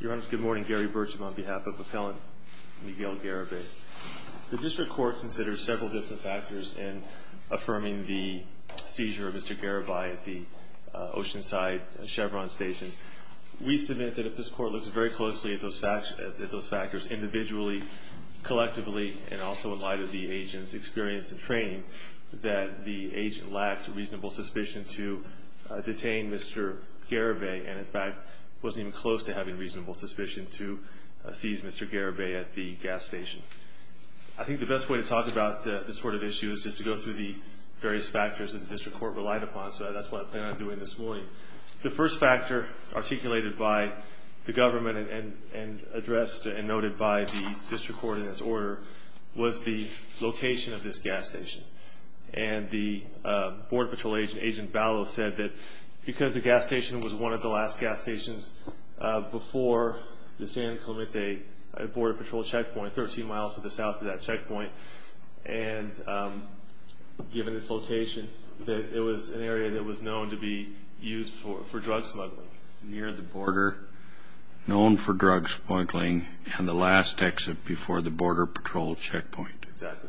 Your Honor, good morning. Gary Burcham on behalf of Appellant Miguel Garibay. The District Court considers several different factors in affirming the seizure of Mr. Garibay at the Oceanside Chevron station. We submit that if this Court looks very closely at those factors individually, collectively, and also in light of the agent's experience and training, that the agent lacked reasonable suspicion to detain Mr. Garibay and, in fact, wasn't even close to having reasonable suspicion to seize Mr. Garibay at the gas station. I think the best way to talk about this sort of issue is just to go through the various factors that the District Court relied upon, so that's what I plan on doing this morning. The first factor articulated by the government and addressed and noted by the District Court in its order was the location of this gas station. And the Border Patrol agent, Agent Balow, said that because the gas station was one of the last gas stations before the San Clemente Border Patrol checkpoint, which is about 13 miles to the south of that checkpoint, and given its location, that it was an area that was known to be used for drug smuggling. Near the border, known for drug smuggling, and the last exit before the Border Patrol checkpoint. Exactly.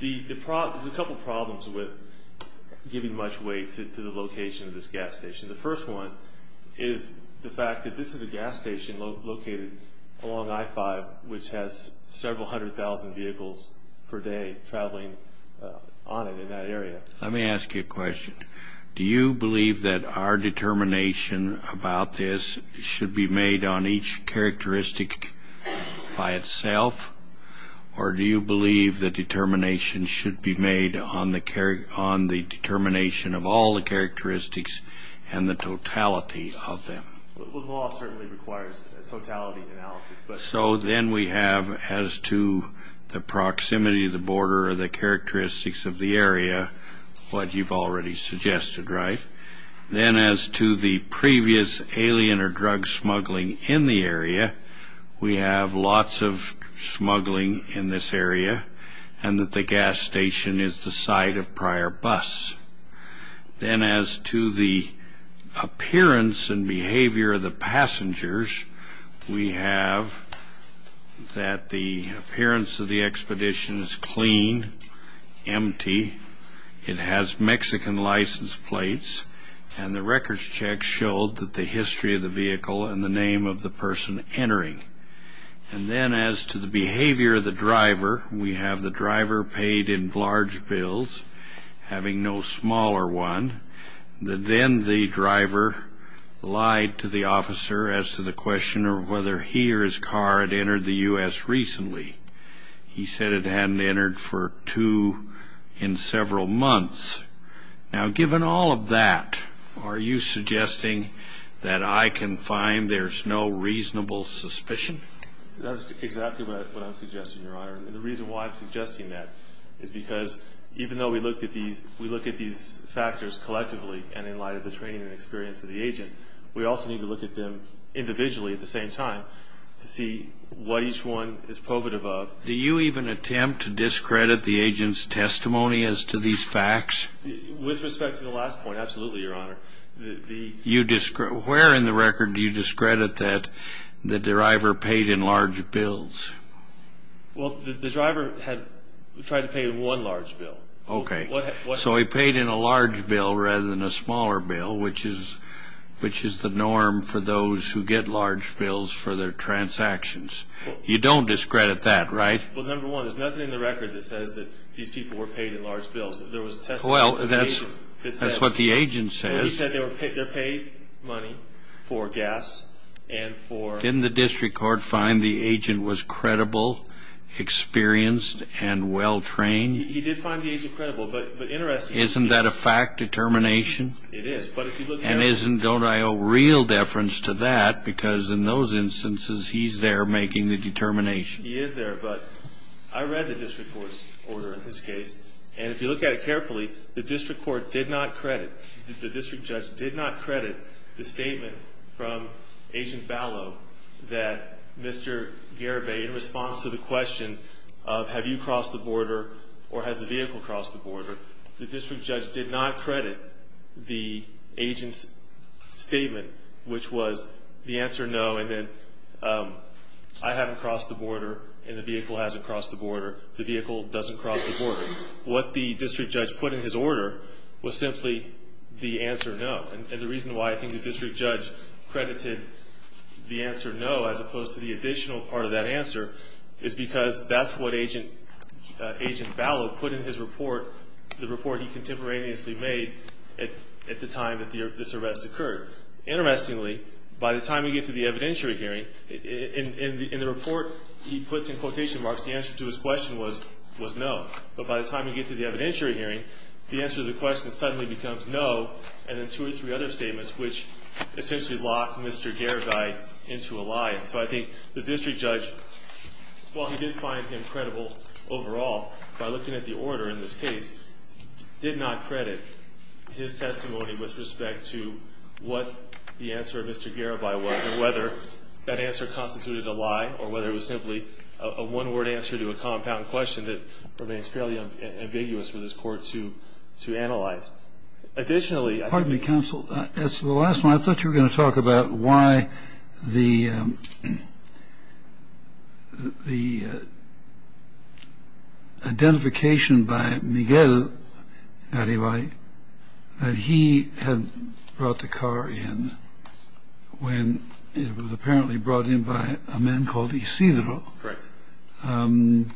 There's a couple problems with giving much weight to the location of this gas station. The first one is the fact that this is a gas station located along I-5, which has several hundred thousand vehicles per day traveling on it in that area. Let me ask you a question. Do you believe that our determination about this should be made on each characteristic by itself, or do you believe that determination should be made on the determination of all the characteristics and the totality of them? Well, the law certainly requires a totality analysis, but... So then we have, as to the proximity of the border or the characteristics of the area, what you've already suggested, right? Then as to the previous alien or drug smuggling in the area, we have lots of smuggling in this area, and that the gas station is the site of prior bus. Then as to the appearance and behavior of the passengers, we have that the appearance of the expedition is clean, empty. It has Mexican license plates, and the records check showed that the history of the vehicle and the name of the person entering. And then as to the behavior of the driver, we have the driver paid in large bills, having no smaller one. Then the driver lied to the officer as to the question of whether he or his car had entered the U.S. recently. He said it hadn't entered for two in several months. Now, given all of that, are you suggesting that I can find there's no reasonable suspicion? That's exactly what I'm suggesting, Your Honor. And the reason why I'm suggesting that is because even though we look at these factors collectively, and in light of the training and experience of the agent, we also need to look at them individually at the same time to see what each one is probative of. Do you even attempt to discredit the agent's testimony as to these facts? With respect to the last point, absolutely, Your Honor. Where in the record do you discredit that the driver paid in large bills? Well, the driver had tried to pay in one large bill. Okay. So he paid in a large bill rather than a smaller bill, which is the norm for those who get large bills for their transactions. You don't discredit that, right? Well, number one, there's nothing in the record that says that these people were paid in large bills. Well, that's what the agent says. He said they're paid money for gas and for... Didn't the district court find the agent was credible, experienced, and well-trained? He did find the agent credible, but interestingly... Isn't that a fact determination? It is, but if you look at... And don't I owe real deference to that, because in those instances, he's there making the determination. He is there, but I read the district court's order in this case, and if you look at it carefully, the district court did not credit, the district judge did not credit the statement from Agent Ballow that Mr. Garibay, in response to the question of have you crossed the border or has the vehicle crossed the border, the district judge did not credit the agent's statement, which was the answer no and then I haven't crossed the border and the vehicle hasn't crossed the border, the vehicle doesn't cross the border. What the district judge put in his order was simply the answer no, and the reason why I think the district judge credited the answer no as opposed to the additional part of that answer is because that's what Agent Ballow put in his report, the report he contemporaneously made at the time that this arrest occurred. Interestingly, by the time we get to the evidentiary hearing, in the report he puts in quotation marks, the answer to his question was no, but by the time we get to the evidentiary hearing, the answer to the question suddenly becomes no and then two or three other statements which essentially lock Mr. Garibay into a lie. So I think the district judge, while he did find him credible overall by looking at the order in this case, did not credit his testimony with respect to what the answer of Mr. Garibay was and whether that answer constituted a lie or whether it was simply a one-word answer to a compound question that remains fairly ambiguous for this court to analyze. Additionally ---- Kennedy, pardon me counsel. As to the last one, I thought you were going to talk about why the identification by Miguel Garibay that he had brought the car in when it was apparently brought in by a man called Isidro. Right.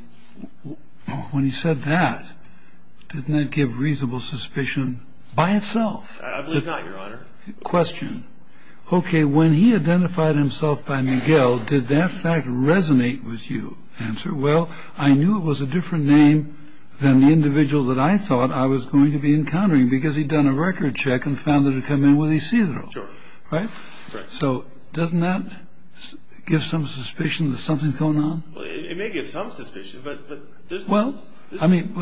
When he said that, didn't that give reasonable suspicion by itself? I believe not, Your Honor. Question. Okay. When he identified himself by Miguel, did that fact resonate with you? Answer. Well, I knew it was a different name than the individual that I thought I was going to be encountering because he'd done a record check and found that it had come in with Isidro. Sure. Right. So doesn't that give some suspicion that something's going on? Well, it may give some suspicion, but there's nothing else. Well, I mean,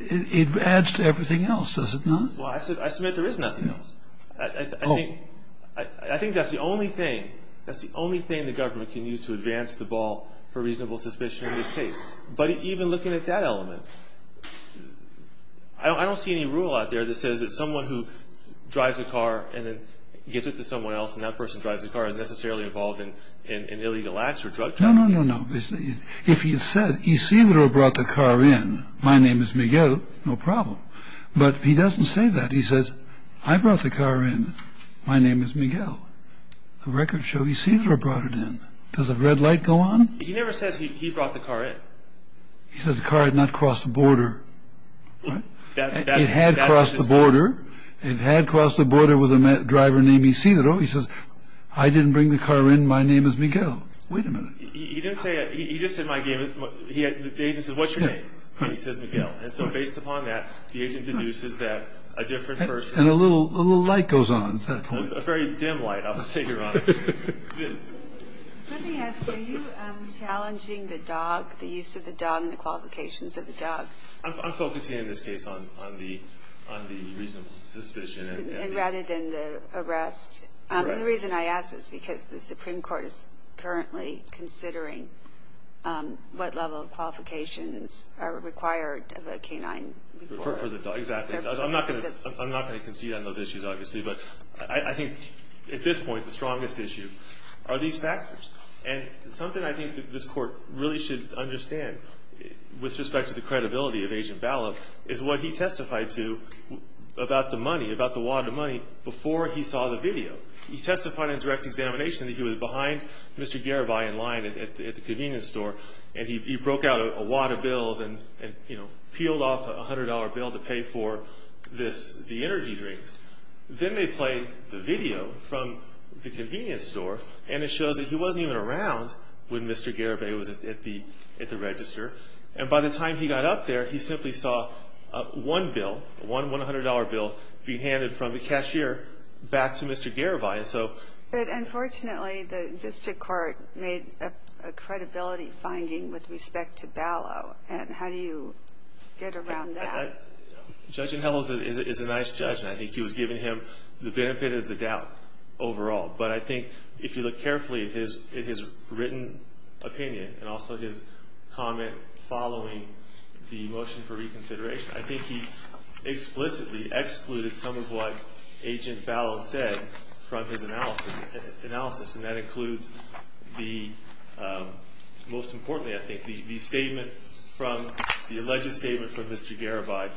it adds to everything else, does it not? Well, I submit there is nothing else. Oh. I think that's the only thing, that's the only thing the government can use to advance the ball for reasonable suspicion in this case. But even looking at that element, I don't see any rule out there that says that someone who drives a car and then gets it to someone else and that person drives the car isn't necessarily involved in illegal acts or drug trafficking. No, no, no, no. If he had said Isidro brought the car in, my name is Miguel, no problem. But he doesn't say that. He says, I brought the car in, my name is Miguel. The record shows Isidro brought it in. Does the red light go on? He never says he brought the car in. He says the car had not crossed the border. It had crossed the border. It had crossed the border with a driver named Isidro. He says, I didn't bring the car in, my name is Miguel. Wait a minute. He didn't say that. He just said my name. The agent says, what's your name? And he says Miguel. And so based upon that, the agent deduces that a different person. And a little light goes on at that point. A very dim light, I would say, Your Honor. Let me ask, are you challenging the dog, the use of the dog and the qualifications of the dog? I'm focusing in this case on the reasonable suspicion. And rather than the arrest. Correct. The reason I ask is because the Supreme Court is currently considering what level of qualifications are required of a canine. For the dog. Exactly. I'm not going to concede on those issues, obviously. But I think at this point, the strongest issue are these factors. And something I think that this Court really should understand with respect to the credibility of Agent Ballup is what he testified to about the money, about the wad of money, before he saw the video. He testified in direct examination that he was behind Mr. Garibay in line at the convenience store, and he broke out a wad of bills and peeled off a $100 bill to pay for the energy drinks. Then they play the video from the convenience store, and it shows that he wasn't even around when Mr. Garibay was at the register. And by the time he got up there, he simply saw one bill, one $100 bill, being handed from the cashier back to Mr. Garibay. But unfortunately, the district court made a credibility finding with respect to Ballup, and how do you get around that? Judge Inhofe is a nice judge, and I think he was given him the benefit of the doubt overall. But I think if you look carefully at his written opinion, and also his comment following the motion for reconsideration, I think he explicitly excluded some of what Agent Ballup said from his analysis. And that includes, most importantly, I think, the alleged statement from Mr. Garibay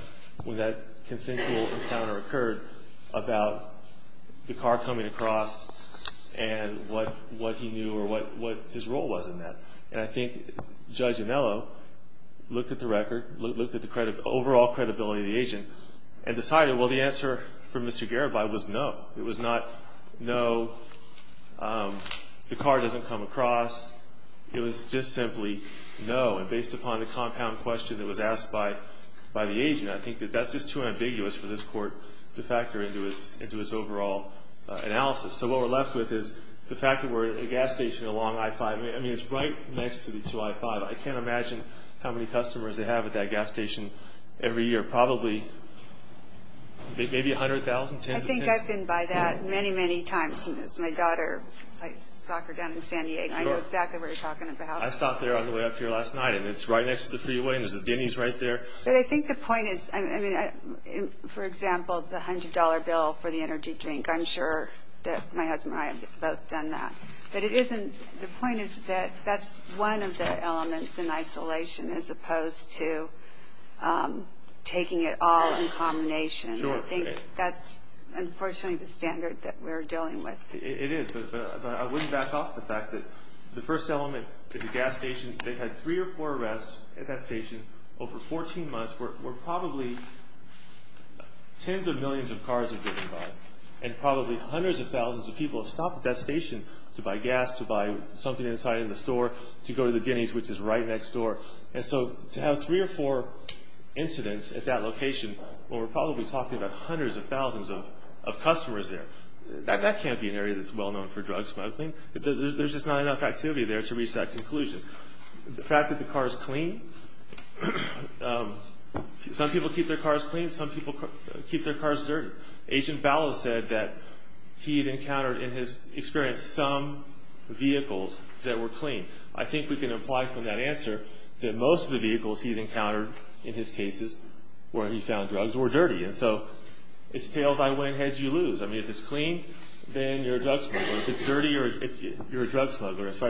when that consensual encounter occurred about the car coming across and what he knew or what his role was in that. And I think Judge Inhofe looked at the record, looked at the overall credibility of the agent, and decided, well, the answer from Mr. Garibay was no. It was not no, the car doesn't come across. It was just simply no. And based upon the compound question that was asked by the agent, I think that that's just too ambiguous for this court to factor into its overall analysis. So what we're left with is the fact that we're at a gas station along I-5. I mean, it's right next to I-5. I can't imagine how many customers they have at that gas station every year. Probably maybe 100,000, tens of tens. I think I've been by that many, many times. My daughter plays soccer down in San Diego. I know exactly where you're talking about. I stopped there on the way up here last night, and it's right next to the freeway, and there's a Denny's right there. But I think the point is, for example, the $100 bill for the energy drink. I'm sure that my husband and I have both done that. But the point is that that's one of the elements in isolation as opposed to taking it all in combination. I think that's, unfortunately, the standard that we're dealing with. It is, but I wouldn't back off the fact that the first element is a gas station. They've had three or four arrests at that station over 14 months where probably tens of millions of cars have driven by and probably hundreds of thousands of people have stopped at that station to buy gas, to buy something inside in the store, to go to the Denny's, which is right next door. And so to have three or four incidents at that location where we're probably talking about hundreds of thousands of customers there, that can't be an area that's well known for drug smuggling. There's just not enough activity there to reach that conclusion. The fact that the cars clean. Some people keep their cars clean. Some people keep their cars dirty. Agent Ballas said that he had encountered in his experience some vehicles that were clean. I think we can imply from that answer that most of the vehicles he's encountered in his cases where he found drugs were dirty. And so it's tails I win, heads you lose. I mean, if it's clean, then you're a drug smuggler. If it's dirty, you're a drug smuggler. And so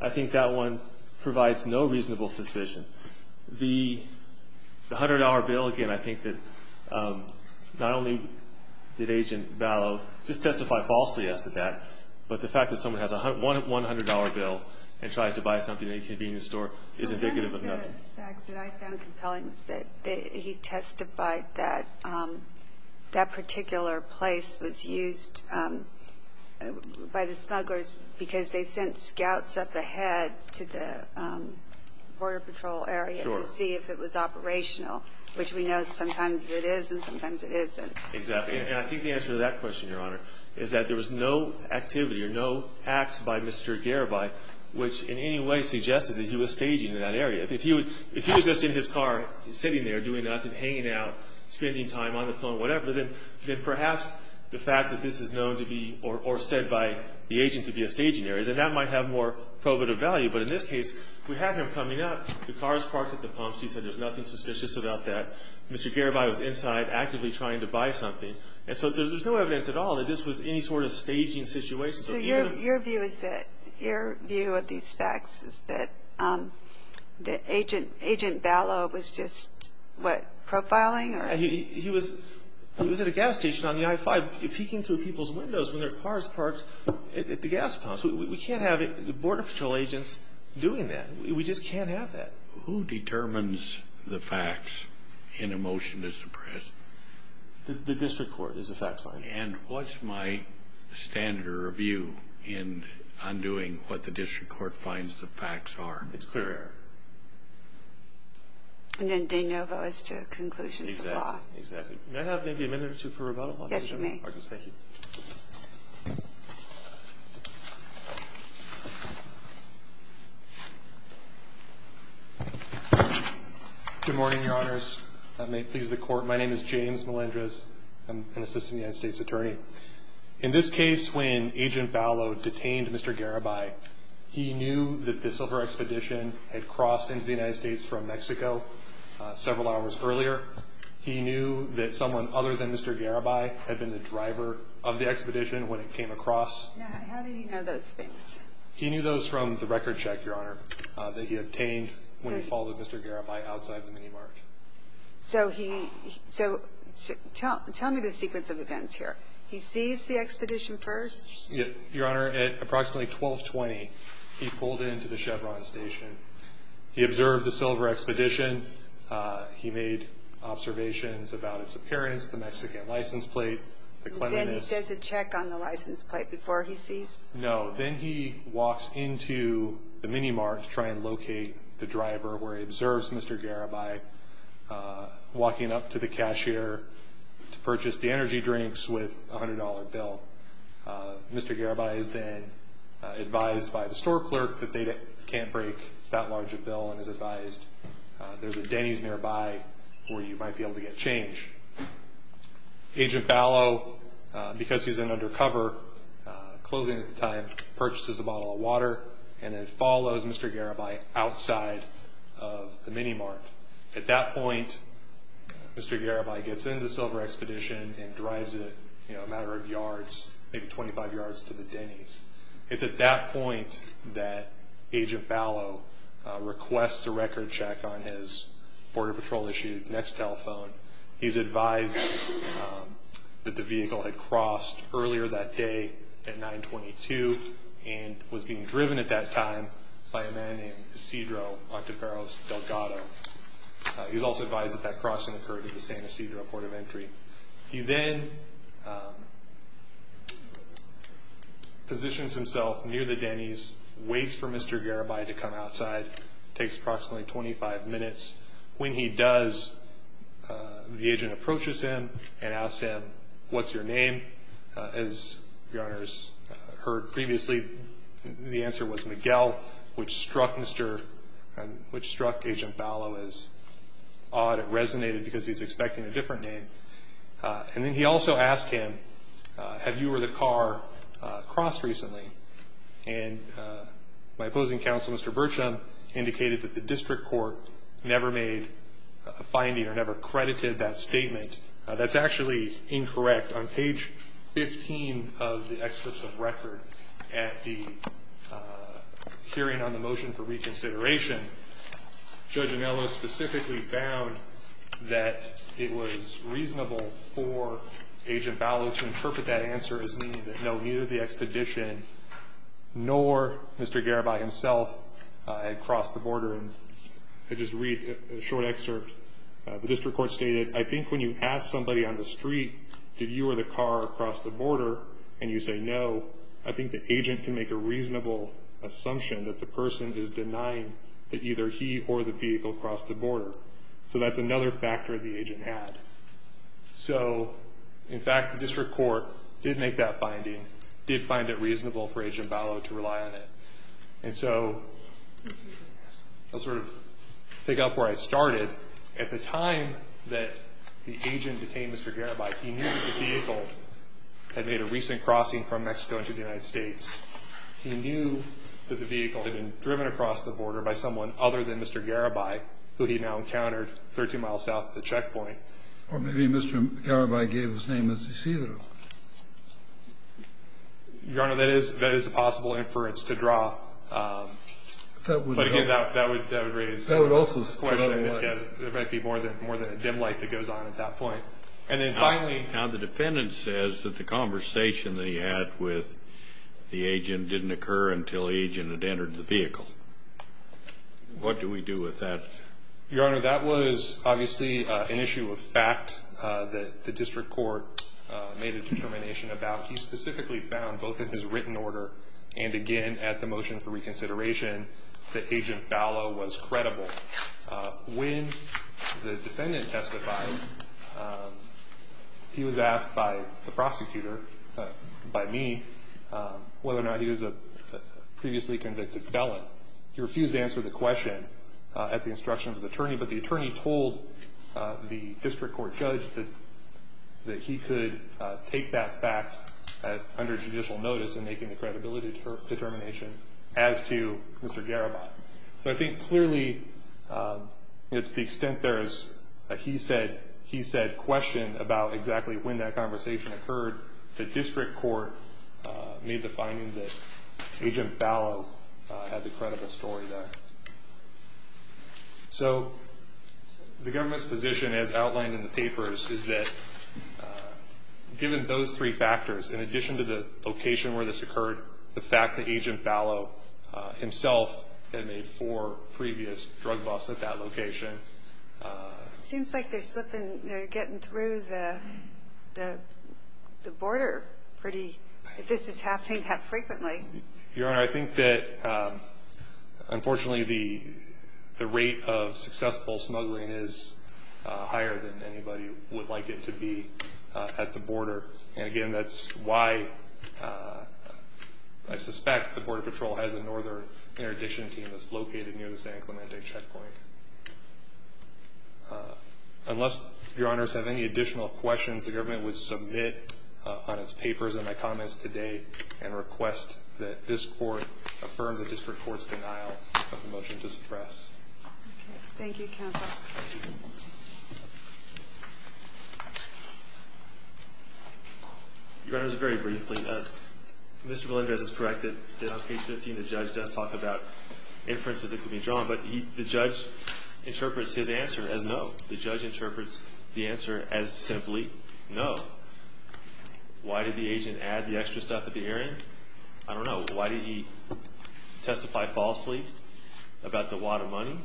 I think that one provides no reasonable suspicion. The $100 bill, again, I think that not only did Agent Ballas just testify falsely as to that, but the fact that someone has a $100 bill and tries to buy something at a convenience store is indicative of nothing. One of the facts that I found compelling is that he testified that that particular place was used by the smugglers because they sent scouts up ahead to the Border Patrol area to see if it was operational, which we know sometimes it is and sometimes it isn't. Exactly. And I think the answer to that question, Your Honor, is that there was no activity or no acts by Mr. Garibay which in any way suggested that he was staging in that area. If he was just in his car sitting there doing nothing, hanging out, spending time on the phone, whatever, then perhaps the fact that this is known to be or said by the agent to be a staging area, then that might have more probative value. But in this case, we have him coming up. The car is parked at the pumps. He said there's nothing suspicious about that. Mr. Garibay was inside actively trying to buy something. And so there's no evidence at all that this was any sort of staging situation. So your view of these facts is that Agent Ballas was just, what, profiling? He was at a gas station on the I-5 peeking through people's windows when their car is parked at the gas pumps. We can't have Border Patrol agents doing that. We just can't have that. Who determines the facts in a motion to suppress? The district court is the fact finder. And what's my standard of view in undoing what the district court finds the facts are? It's clear. And then de novo is to conclusions of law. Exactly, exactly. May I have maybe a minute or two for rebuttal? Yes, you may. Thank you. Good morning, Your Honors. May it please the Court. My name is James Melendrez. I'm an assistant United States attorney. In this case, when Agent Ballas detained Mr. Garibay, he knew that the Silver Expedition had crossed into the United States from Mexico several hours earlier. He knew that someone other than Mr. Garibay had been the driver of the expedition when it came across. Now, how do you know those things? He knew those from the record check, Your Honor, that he obtained when he followed Mr. Garibay outside the mini-mart. So tell me the sequence of events here. He seized the expedition first? Your Honor, at approximately 1220, he pulled into the Chevron station. He observed the Silver Expedition. He made observations about its appearance, the Mexican license plate, the clemency. And then he does a check on the license plate before he sees? No. Then he walks into the mini-mart to try and locate the driver where he observes Mr. Garibay, walking up to the cashier to purchase the energy drinks with a $100 bill. Mr. Garibay is then advised by the store clerk that they can't break that large a bill and is advised there's a Denny's nearby where you might be able to get change. Agent Ballas, because he's in undercover clothing at the time, at that point, Mr. Garibay gets into the Silver Expedition and drives it a matter of yards, maybe 25 yards to the Denny's. It's at that point that Agent Ballas requests a record check on his Border Patrol-issued next telephone. He's advised that the vehicle had crossed earlier that day at 922 and was being driven at that time by a man named Isidro Ontiveros Delgado. He's also advised that that crossing occurred at the San Isidro Port of Entry. He then positions himself near the Denny's, waits for Mr. Garibay to come outside. It takes approximately 25 minutes. When he does, the agent approaches him and asks him, As Your Honors heard previously, the answer was Miguel, which struck Agent Ballas as odd. It resonated because he's expecting a different name. And then he also asked him, have you or the car crossed recently? And my opposing counsel, Mr. Bertram, indicated that the district court never made a finding or never credited that statement. That's actually incorrect. On page 15 of the excerpts of record at the hearing on the motion for reconsideration, Judge Anello specifically found that it was reasonable for Agent Ballas to interpret that answer as meaning that no, neither the expedition nor Mr. Garibay himself had crossed the border. And I just read a short excerpt. The district court stated, I think when you ask somebody on the street, did you or the car cross the border, and you say no, I think the agent can make a reasonable assumption that the person is denying that either he or the vehicle crossed the border. So that's another factor the agent had. So, in fact, the district court did make that finding, did find it reasonable for Agent Ballas to rely on it. And so I'll sort of pick up where I started. At the time that the agent detained Mr. Garibay, he knew that the vehicle had made a recent crossing from Mexico into the United States. He knew that the vehicle had been driven across the border by someone other than Mr. Garibay, who he now encountered 13 miles south of the checkpoint. Or maybe Mr. Garibay gave his name as he see it. Your Honor, that is a possible inference to draw. But again, that would raise a question. There might be more than a dim light that goes on at that point. And then finally, now the defendant says that the conversation that he had with the agent didn't occur until the agent had entered the vehicle. What do we do with that? Your Honor, that was obviously an issue of fact that the district court made a determination about. He specifically found, both in his written order and again at the motion for reconsideration, that Agent Ballas was credible. When the defendant testified, he was asked by the prosecutor, by me, whether or not he was a previously convicted felon. He refused to answer the question at the instruction of his attorney, but the attorney told the district court judge that he could take that fact under judicial notice in making the credibility determination as to Mr. Garibay. So I think clearly, to the extent there is a he-said-question about exactly when that conversation occurred, the district court made the finding that Agent Ballas had the credible story there. So the government's position, as outlined in the papers, is that given those three factors, in addition to the location where this occurred, the fact that Agent Ballas himself had made four previous drug busts at that location. It seems like they're slipping, they're getting through the border pretty, if this is happening, that frequently. Your Honor, I think that unfortunately the rate of successful smuggling is higher than anybody would like it to be at the border. And again, that's why I suspect the Border Patrol has a northern interdiction team that's located near the San Clemente checkpoint. Unless Your Honors have any additional questions, the government would submit on its papers and my comments today and request that this Court affirm the district court's denial of the motion to suppress. Thank you, Counsel. Your Honors, very briefly, Mr. Belenrez is correct that on page 15 the judge does talk about inferences that could be drawn, but the judge interprets his answer as no. The judge interprets the answer as simply no. Why did the agent add the extra stuff at the hearing? I don't know. Why did he testify falsely about the wad of money?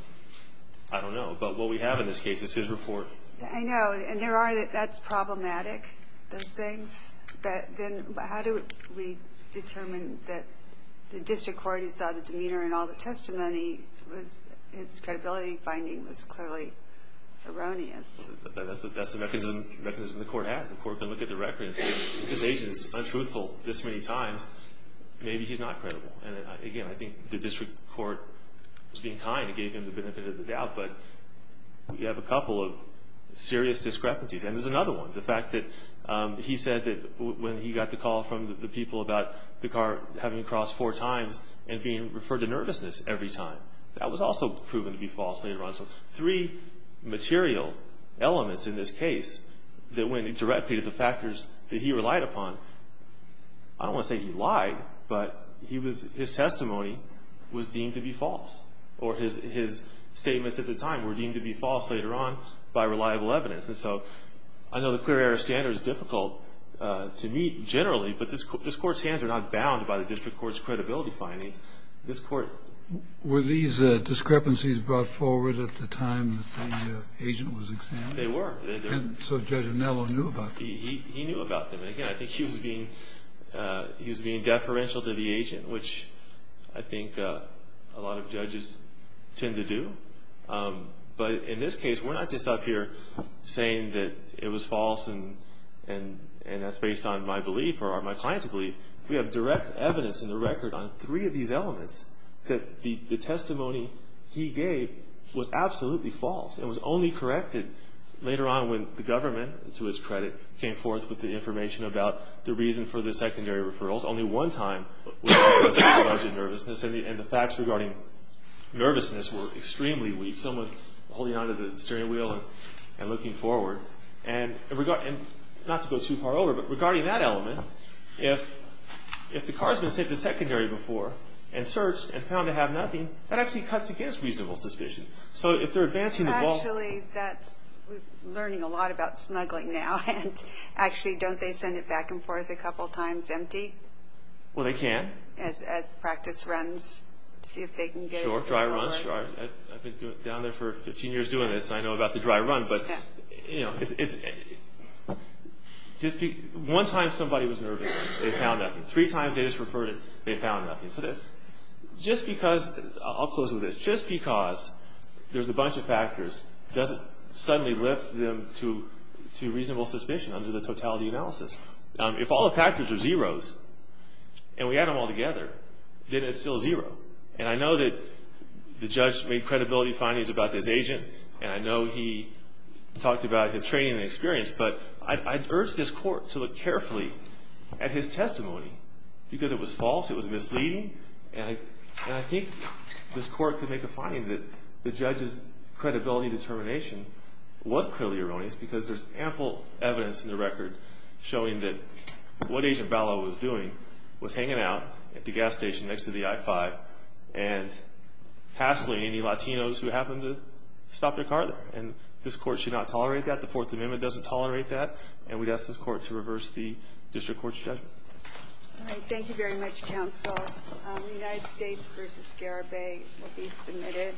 I don't know. But what we have in this case is his report. I know, and there are, that's problematic, those things. But then how do we determine that the district court, who saw the demeanor in all the testimony, its credibility finding was clearly erroneous? That's the mechanism the Court has. The Court can look at the records and say, if this agent is untruthful this many times, maybe he's not credible. And again, I think the district court was being kind and gave him the benefit of the doubt, but we have a couple of serious discrepancies. And there's another one, the fact that he said that when he got the call from the people about the car having crossed four times and being referred to nervousness every time, that was also proven to be false later on. So three material elements in this case that went directly to the factors that he relied upon. I don't want to say he lied, but his testimony was deemed to be false, or his statements at the time were deemed to be false later on by reliable evidence. And so I know the clear air standard is difficult to meet generally, but this Court's hands are not bound by the district court's credibility findings. This Court… Were these discrepancies brought forward at the time the agent was examined? They were. And so Judge Anello knew about them? He knew about them. And again, I think he was being deferential to the agent, which I think a lot of judges tend to do. But in this case, we're not just up here saying that it was false and that's based on my belief or my client's belief. We have direct evidence in the record on three of these elements that the testimony he gave was absolutely false and was only corrected later on when the government, to his credit, came forth with the information about the reason for the secondary referrals. And the facts regarding nervousness were extremely weak. Someone holding onto the steering wheel and looking forward. And not to go too far over, but regarding that element, if the car's been sent to secondary before and searched and found to have nothing, that actually cuts against reasonable suspicion. So if they're advancing the ball… Actually, that's… we're learning a lot about smuggling now. And actually, don't they send it back and forth a couple times empty? Well, they can. As practice runs, see if they can get it… Sure, dry runs. I've been down there for 15 years doing this. I know about the dry run. But, you know, it's… One time somebody was nervous. They found nothing. Three times they just referred it. They found nothing. So just because… I'll close with this. Just because there's a bunch of factors doesn't suddenly lift them to reasonable suspicion under the totality analysis. If all the factors are zeros and we add them all together, then it's still zero. And I know that the judge made credibility findings about this agent. And I know he talked about his training and experience. But I'd urge this Court to look carefully at his testimony. Because it was false. It was misleading. And I think this Court could make a finding that the judge's credibility determination was clearly erroneous because there's ample evidence in the record showing that what Agent Vallow was doing was hanging out at the gas station next to the I-5 and hassling any Latinos who happened to stop their car there. And this Court should not tolerate that. The Fourth Amendment doesn't tolerate that. And we'd ask this Court to reverse the district court's judgment. Thank you very much, counsel. United States v. Garibay will be submitted.